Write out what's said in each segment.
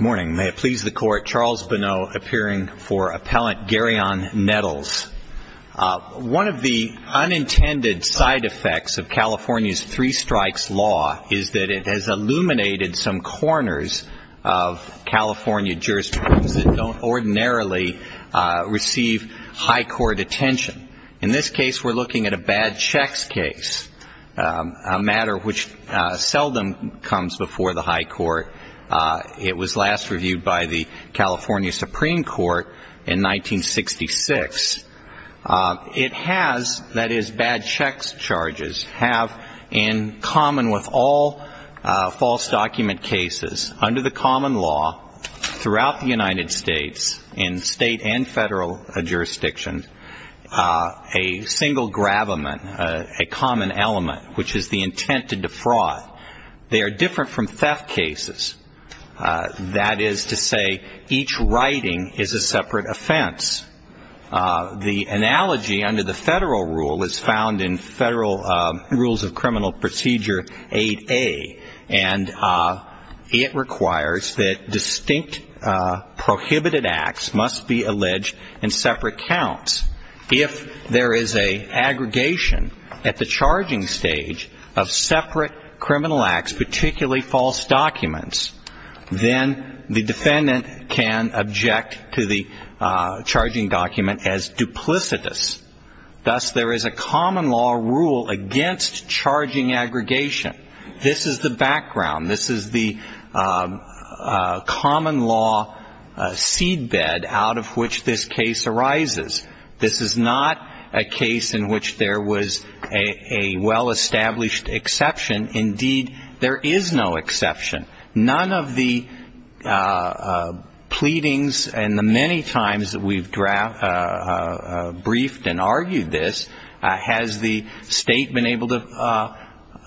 May it please the Court, Charles Bonneau, appearing for Appellant Garyon Nettles. One of the unintended side effects of California's three strikes law is that it has illuminated some corners of California jurisdictions that don't ordinarily receive high court attention. In this case, we're looking at a bad checks case, a matter which seldom comes before the high court. It was last reviewed by the California Supreme Court in 1966. It has, that is, bad checks charges have in common with all false document cases under the common law throughout the United States in state and federal jurisdictions a single gravamen, a common element, which is the intent to defraud. They are different from theft cases. That is to say, each writing is a separate offense. The analogy under the federal rule is found in Federal Rules of Criminal Procedure 8A, and it requires that distinct prohibited acts must be alleged in separate counts. If there is an aggregation at the charging stage of separate criminal acts, particularly false documents, then the defendant can object to the charging document as duplicitous. Thus, there is a common law rule against charging aggregation. This is the background. This is the common law seedbed out of which this case arises. This is not a case in which there was a well-established exception. Indeed, there is no exception. None of the pleadings and the many times that we've briefed and argued this, has the state been able to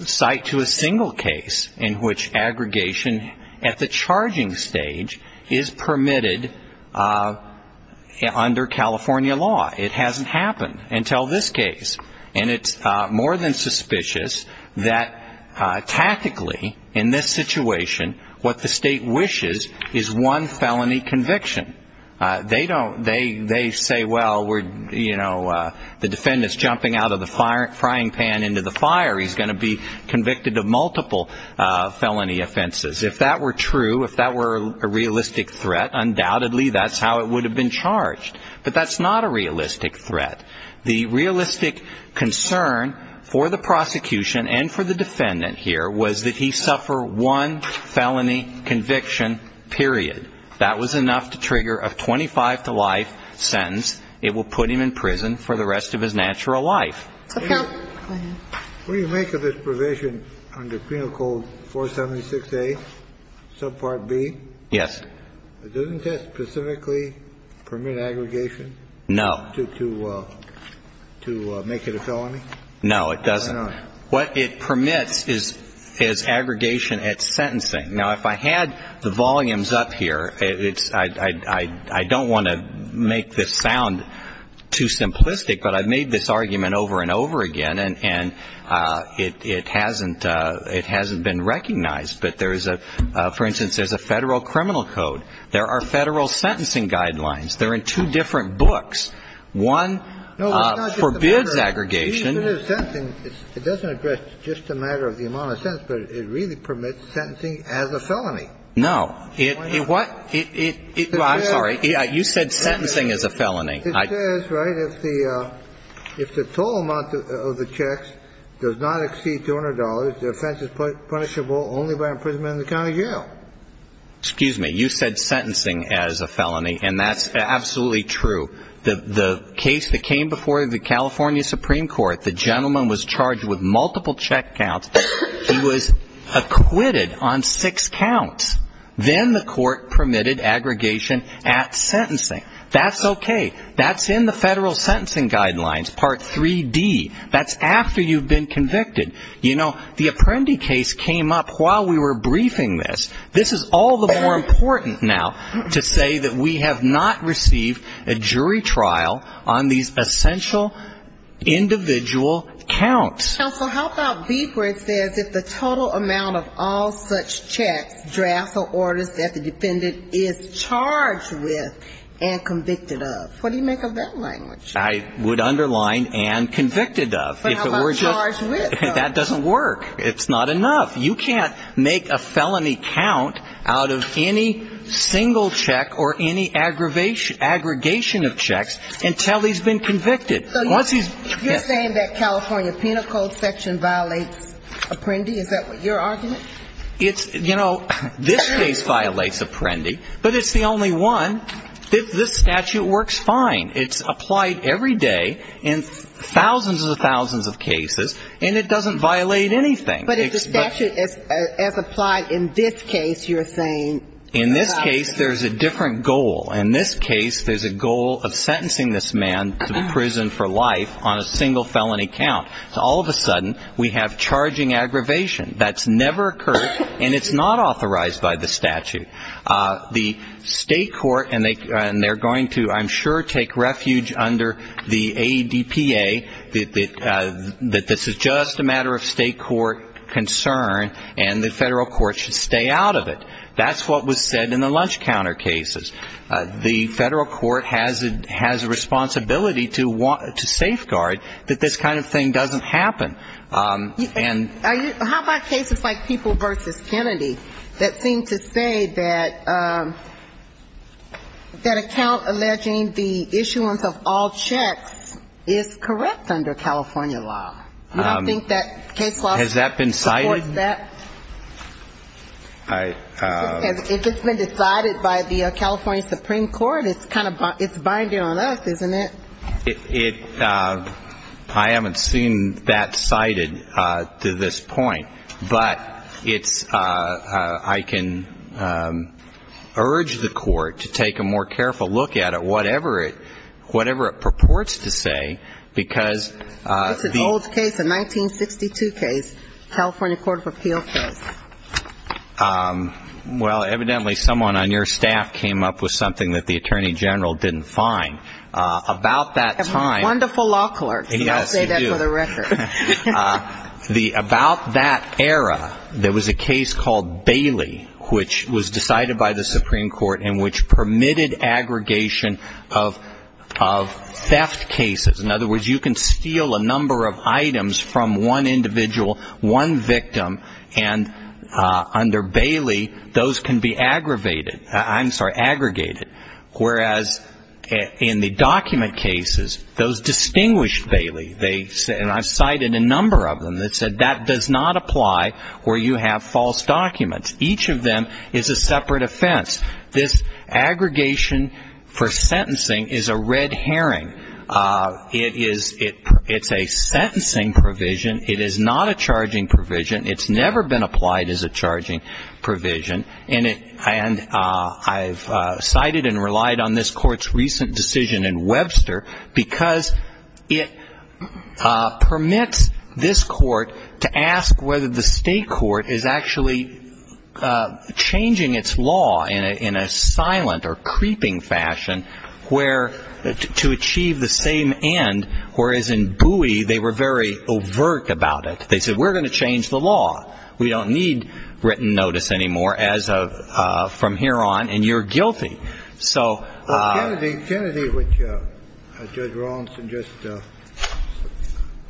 cite to a single case in which aggregation at the charging stage is permitted under California law. It hasn't happened until this case. And it's more than suspicious that tactically, in this situation, what the state wishes is one felony conviction. They say, well, the defendant's jumping out of the frying pan into the fire. He's going to be convicted of multiple felony offenses. If that were true, if that were a realistic threat, undoubtedly that's how it would have been charged. But that's not a realistic threat. The realistic concern for the prosecution and for the defendant here was that he suffer one felony conviction, period. That was enough to trigger a 25-to-life sentence. It will put him in prison for the rest of his natural life. Okay. Go ahead. What do you make of this provision under Penal Code 476A, subpart B? Yes. Doesn't it specifically permit aggregation? No. To make it a felony? No, it doesn't. Why not? What it permits is aggregation at sentencing. Okay. Now, if I had the volumes up here, it's – I don't want to make this sound too simplistic, but I've made this argument over and over again, and it hasn't been recognized. But there's a – for instance, there's a Federal Criminal Code. There are Federal sentencing guidelines. They're in two different books. One forbids aggregation. It doesn't address just the matter of the amount of sentence, but it really permits sentencing as a felony. No. Why not? I'm sorry. You said sentencing as a felony. It says, right, if the – if the total amount of the checks does not exceed $200, the offense is punishable only by imprisonment in the county jail. Excuse me. You said sentencing as a felony, and that's absolutely true. The case that came before the California Supreme Court, the gentleman was charged with multiple check counts. He was acquitted on six counts. Then the court permitted aggregation at sentencing. That's okay. That's in the Federal sentencing guidelines, Part 3D. That's after you've been convicted. You know, the Apprendi case came up while we were briefing this. This is all the more important now to say that we have not received a jury trial on these essential individual counts. Counsel, how about beeper? It says if the total amount of all such checks, drafts, or orders that the defendant is charged with and convicted of. What do you make of that language? I would underline and convicted of. But how about charged with? That doesn't work. It's not enough. You can't make a felony count out of any single check or any aggregation of checks until he's been convicted. So you're saying that California Penal Code section violates Apprendi? Is that your argument? It's, you know, this case violates Apprendi, but it's the only one. This statute works fine. It's applied every day in thousands and thousands of cases, and it doesn't violate anything. But if the statute is applied in this case, you're saying? In this case, there's a different goal. In this case, there's a goal of sentencing this man to prison for life on a single felony count. So all of a sudden, we have charging aggravation. That's never occurred, and it's not authorized by the statute. The state court, and they're going to, I'm sure, take refuge under the ADPA, that this is just a matter of state court concern, and the federal court should stay out of it. That's what was said in the lunch counter cases. The federal court has a responsibility to safeguard that this kind of thing doesn't happen. How about cases like People v. Kennedy that seem to say that that account alleging the issuance of all checks is correct under California law? You don't think that case law supports that? Has that been cited? If it's been decided by the California Supreme Court, it's kind of binding on us, isn't it? I haven't seen that cited to this point, but I can urge the court to take a more careful look at it, whatever it purports to say, because the old case, the 1962 case, California Court of Appeals does. Well, evidently, someone on your staff came up with something that the Attorney General didn't find. Wonderful law clerks, and I'll say that for the record. About that era, there was a case called Bailey, which was decided by the Supreme Court and which permitted aggregation of theft cases. In other words, you can steal a number of items from one individual, one victim, and under Bailey, those can be aggregated. Whereas in the document cases, those distinguished Bailey, and I've cited a number of them, that said that does not apply where you have false documents. Each of them is a separate offense. This aggregation for sentencing is a red herring. It's a sentencing provision. It is not a charging provision. It's never been applied as a charging provision, and I've cited and relied on this court's recent decision in Webster, because it permits this court to ask whether the state court is actually changing its law in a silent or creeping fashion to achieve the same end, whereas in Webster's case, the state court is saying, well, we're changing the law. We don't need written notice anymore from here on, and you're guilty. Kennedy, which Judge Rawlinson just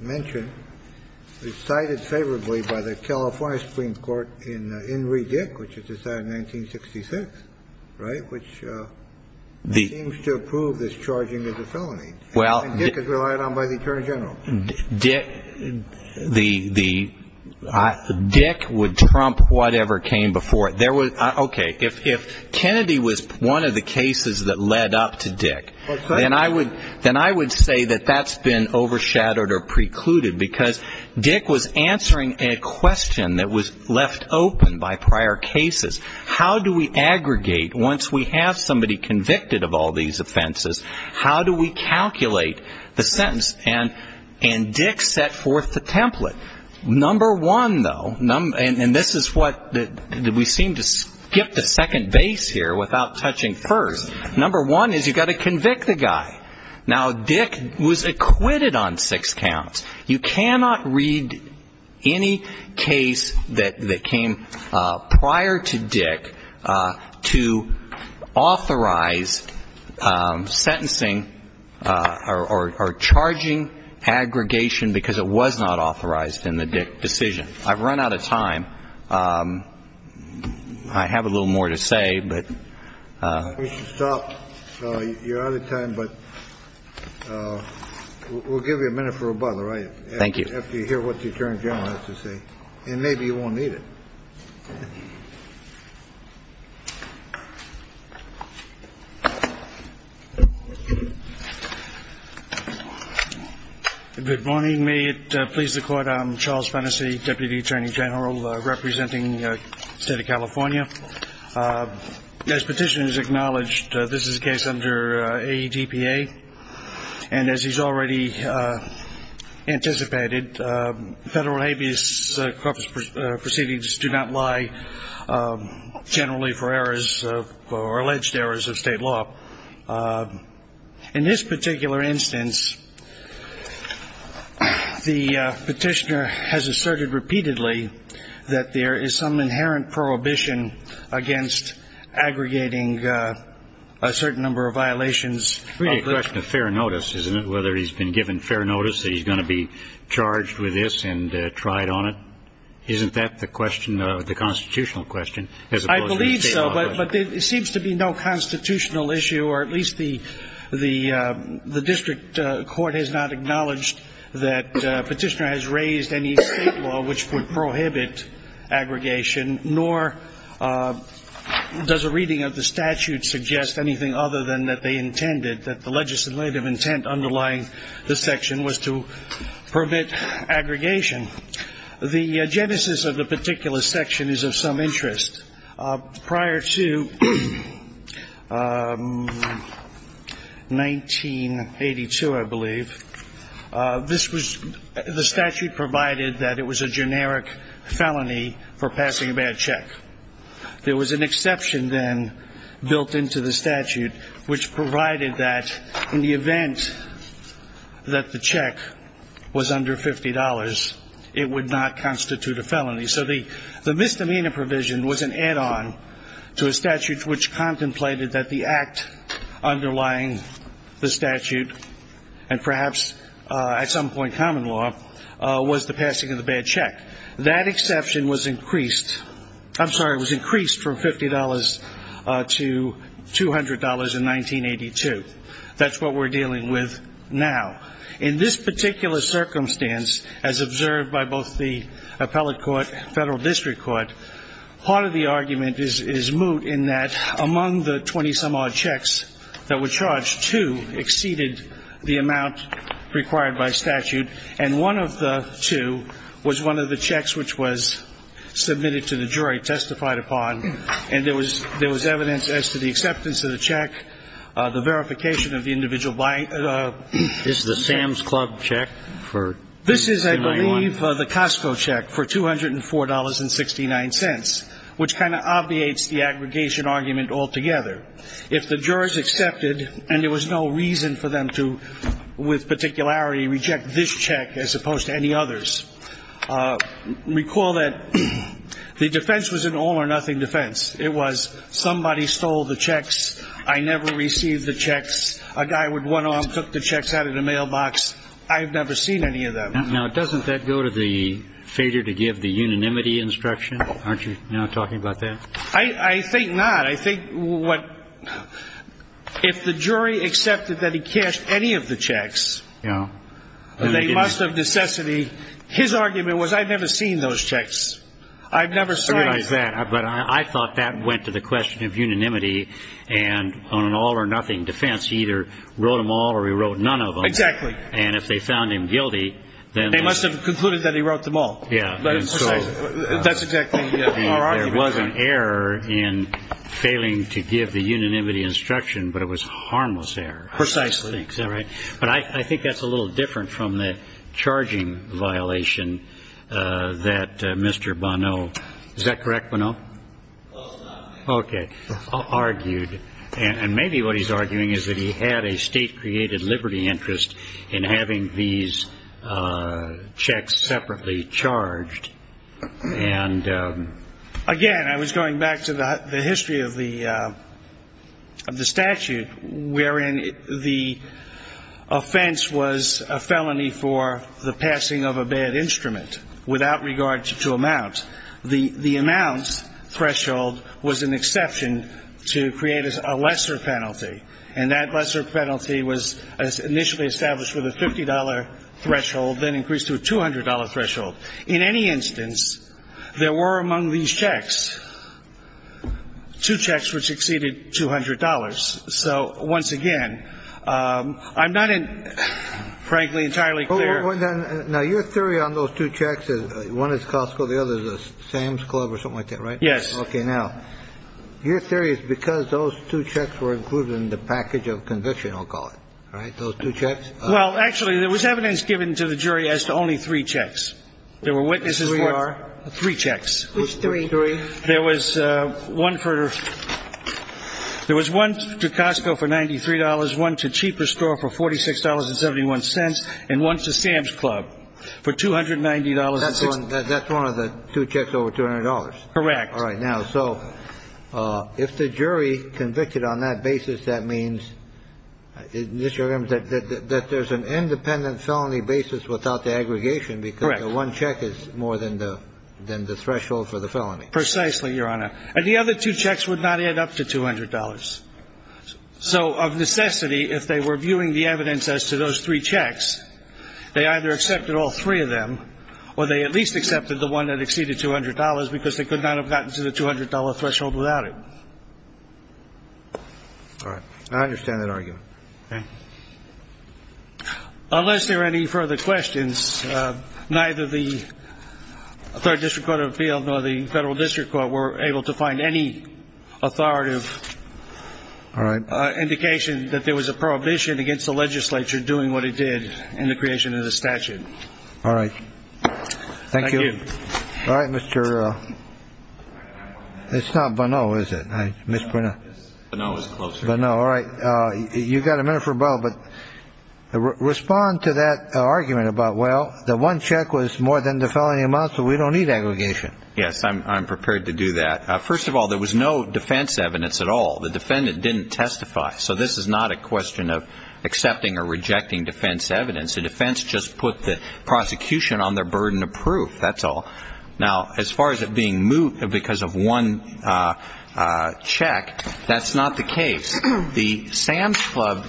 mentioned, is cited favorably by the California Supreme Court in Henry Dick, which was decided in 1966, right, which seems to approve this charging as a felony. Well, Dick is relied on by the attorney general. Dick would trump whatever came before it. Okay, if Kennedy was one of the cases that led up to Dick, then I would say that that's been overshadowed or precluded, because Dick was answering a question that was left open by prior cases. How do we aggregate, once we have somebody convicted of all these offenses, how do we calculate the number of cases? How do we calculate the sentence? And Dick set forth the template. Number one, though, and this is what we seem to skip the second base here without touching first. Number one is you've got to convict the guy. Now, Dick was acquitted on six counts. You cannot read any case that came prior to Dick to authorize sentencing or charging aggregation, because it was not authorized in the Dick decision. I've run out of time. I have a little more to say, but... Thank you. And maybe you won't need it. Good morning. May it please the Court. I'm Charles Fennessy, Deputy Attorney General representing the State of California. As Petitioner has acknowledged, this is a case under AEDPA, and as he's already anticipated, federal habeas corpus proceedings do not lie generally for errors or alleged errors of state law. In this particular instance, the Petitioner has asserted repeatedly that there is some inherent prohibition of state law. And I'm wondering if you can comment on that. Well, I think it's a question of fair notice, isn't it, whether he's been given fair notice that he's going to be charged with this and tried on it? Isn't that the question, the constitutional question? I believe so, but it seems to be no constitutional issue, or at least the district court has not acknowledged that Petitioner has raised any state law which would prohibit aggregation, and does a reading of the statute suggest anything other than that they intended, that the legislative intent underlying this section was to permit aggregation? The genesis of the particular section is of some interest. Prior to 1982, I believe, this was the statute provided that it was a generic felony for passing a bad check. There was an exception then built into the statute which provided that in the event that the check was under $50, it would not constitute a felony. So the misdemeanor provision was an add-on to a statute which contemplated that the act underlying the statute, and perhaps at some point common law, was the passing of the bad check. That exception was increased, I'm sorry, it was increased from $50 to $200 in 1982. That's what we're dealing with now. In this particular circumstance, as observed by both the appellate court and federal district court, part of the argument is moot in that among the 20-some-odd checks that were charged, two exceeded the amount required by statute, and one of the two was one of the two exceptions. In this particular case, there were two checks which were submitted to the jury, testified upon, and there was evidence as to the acceptance of the check, the verification of the individual buying the check. This is the Sam's Club check for 1991? This is, I believe, the Costco check for $204.69, which kind of obviates the aggregation argument altogether. If the jurors accepted, and there was no reason for them to, with particularity, reject this check as opposed to any others, recall that the defense was an all-or-nothing defense. It was somebody stole the checks, I never received the checks, a guy would one-arm cook the checks out of the mailbox, I've never seen any of them. Now, doesn't that go to the failure to give the unanimity instruction? Aren't you now talking about that? I think not. I think if the jury accepted that he cashed any of the checks, they must have necessity. His argument was, I've never seen those checks. I've never seen them. But I thought that went to the question of unanimity, and on an all-or-nothing defense, he either wrote them all or he wrote none of them. Exactly. And if they found him guilty, then they must have concluded that he wrote them all. That's exactly our argument. There was an error in failing to give the unanimity instruction, but it was a harmless error. Precisely. But I think that's a little different from the charging violation that Mr. Bono, is that correct, Bono? Okay, argued, and maybe what he's arguing is that he had a state-created liberty interest in having these checks separately charged. And again, I was going back to the history of the statute wherein the offense was a felony for the passing of a bad instrument without regard to amount. The amount threshold was an exception to create a lesser penalty, and that lesser penalty was initially established with a $50 threshold, then increased to a $200 threshold. In any instance, there were, among these checks, two checks which exceeded $200. So once again, I'm not, frankly, entirely clear. Well, then now your theory on those two checks is one is Costco, the other is Sam's Club or something like that. Right. Yes. Okay. Now, your theory is because those two checks were included in the package of conviction. I'll call it right. Those two checks. Well, actually, there was evidence given to the jury as to only three checks. There were witnesses. We are three checks. Three. There was one for there was one to Costco for ninety three dollars, one to cheaper store for forty six dollars and seventy one cents. And one to Sam's Club for two hundred ninety dollars. That's one of the two checks over two hundred dollars. Correct. All right. Now, so if the jury convicted on that basis, that means that there's an independent felony basis without the aggregation because one check is more than the than the threshold for the felony. Precisely, Your Honor. And the other two checks would not add up to two hundred dollars. So of necessity, if they were viewing the evidence as to those three checks, they either accepted all three of them or they at least accepted the one that exceeded two hundred dollars because they could not have gotten to the two hundred dollar threshold without it. All right. I understand that argument. Unless there are any further questions, neither the third district court of appeal nor the federal district court were able to find any authoritative. All right. Indication that there was a prohibition against the legislature doing what it did in the creation of the statute. All right. Thank you. All right, Mr. It's not Bono, is it? No. All right. You've got a minute for both. But respond to that argument about. Well, the one check was more than the felony amount. So we don't need aggregation. Yes, I'm prepared to do that. First of all, there was no defense evidence at all. The defendant didn't testify. So this is not a question of accepting or rejecting defense evidence. The defense just put the prosecution on their burden of proof. That's all. Now, as far as it being moot because of one check, that's not the case. The Sam's Club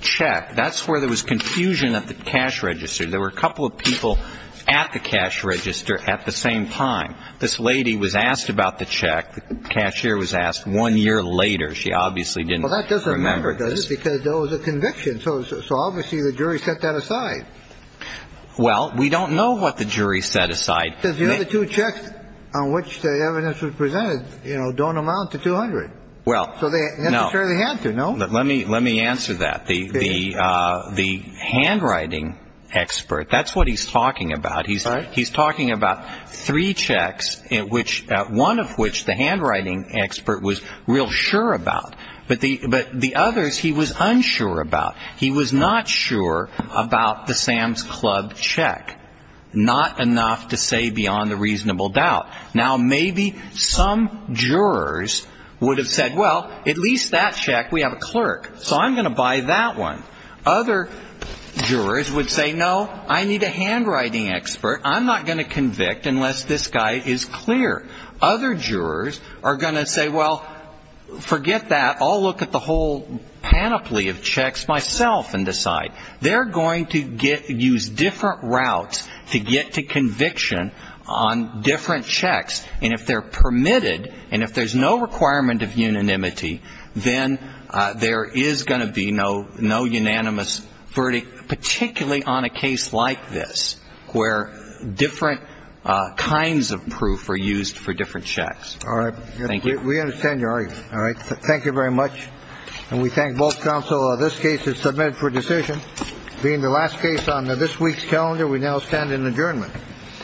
check. That's where there was confusion at the cash register. There were a couple of people at the cash register at the same time. This lady was asked about the check. The cashier was asked one year later. She obviously didn't remember this because there was a conviction. So obviously the jury set that aside. Well, we don't know what the jury set aside. Because the other two checks on which the evidence was presented, you know, don't amount to 200. Well, so they had to know. Let me let me answer that. The the the handwriting expert. That's what he's talking about. He's he's talking about three checks in which one of which the handwriting expert was real sure about. But the but the others he was unsure about. He was not sure about the Sam's Club check. Not enough to say beyond a reasonable doubt. Now, maybe some jurors would have said, well, at least that check. We have a clerk. So I'm going to buy that one. Other jurors would say, no, I need a handwriting expert. I'm not going to convict unless this guy is clear. Other jurors are going to say, well, forget that. I'll look at the whole panoply of checks myself and decide they're going to get to use different routes to get to conviction on different checks. And if they're permitted and if there's no requirement of unanimity, then there is going to be no no unanimous verdict, particularly on a case like this where different kinds of proof are used for different checks. All right. Thank you. We understand your argument. All right. Thank you very much. And we thank both counsel. This case is submitted for decision. Being the last case on this week's calendar, we now stand in adjournment. All right. All right. All right. All right.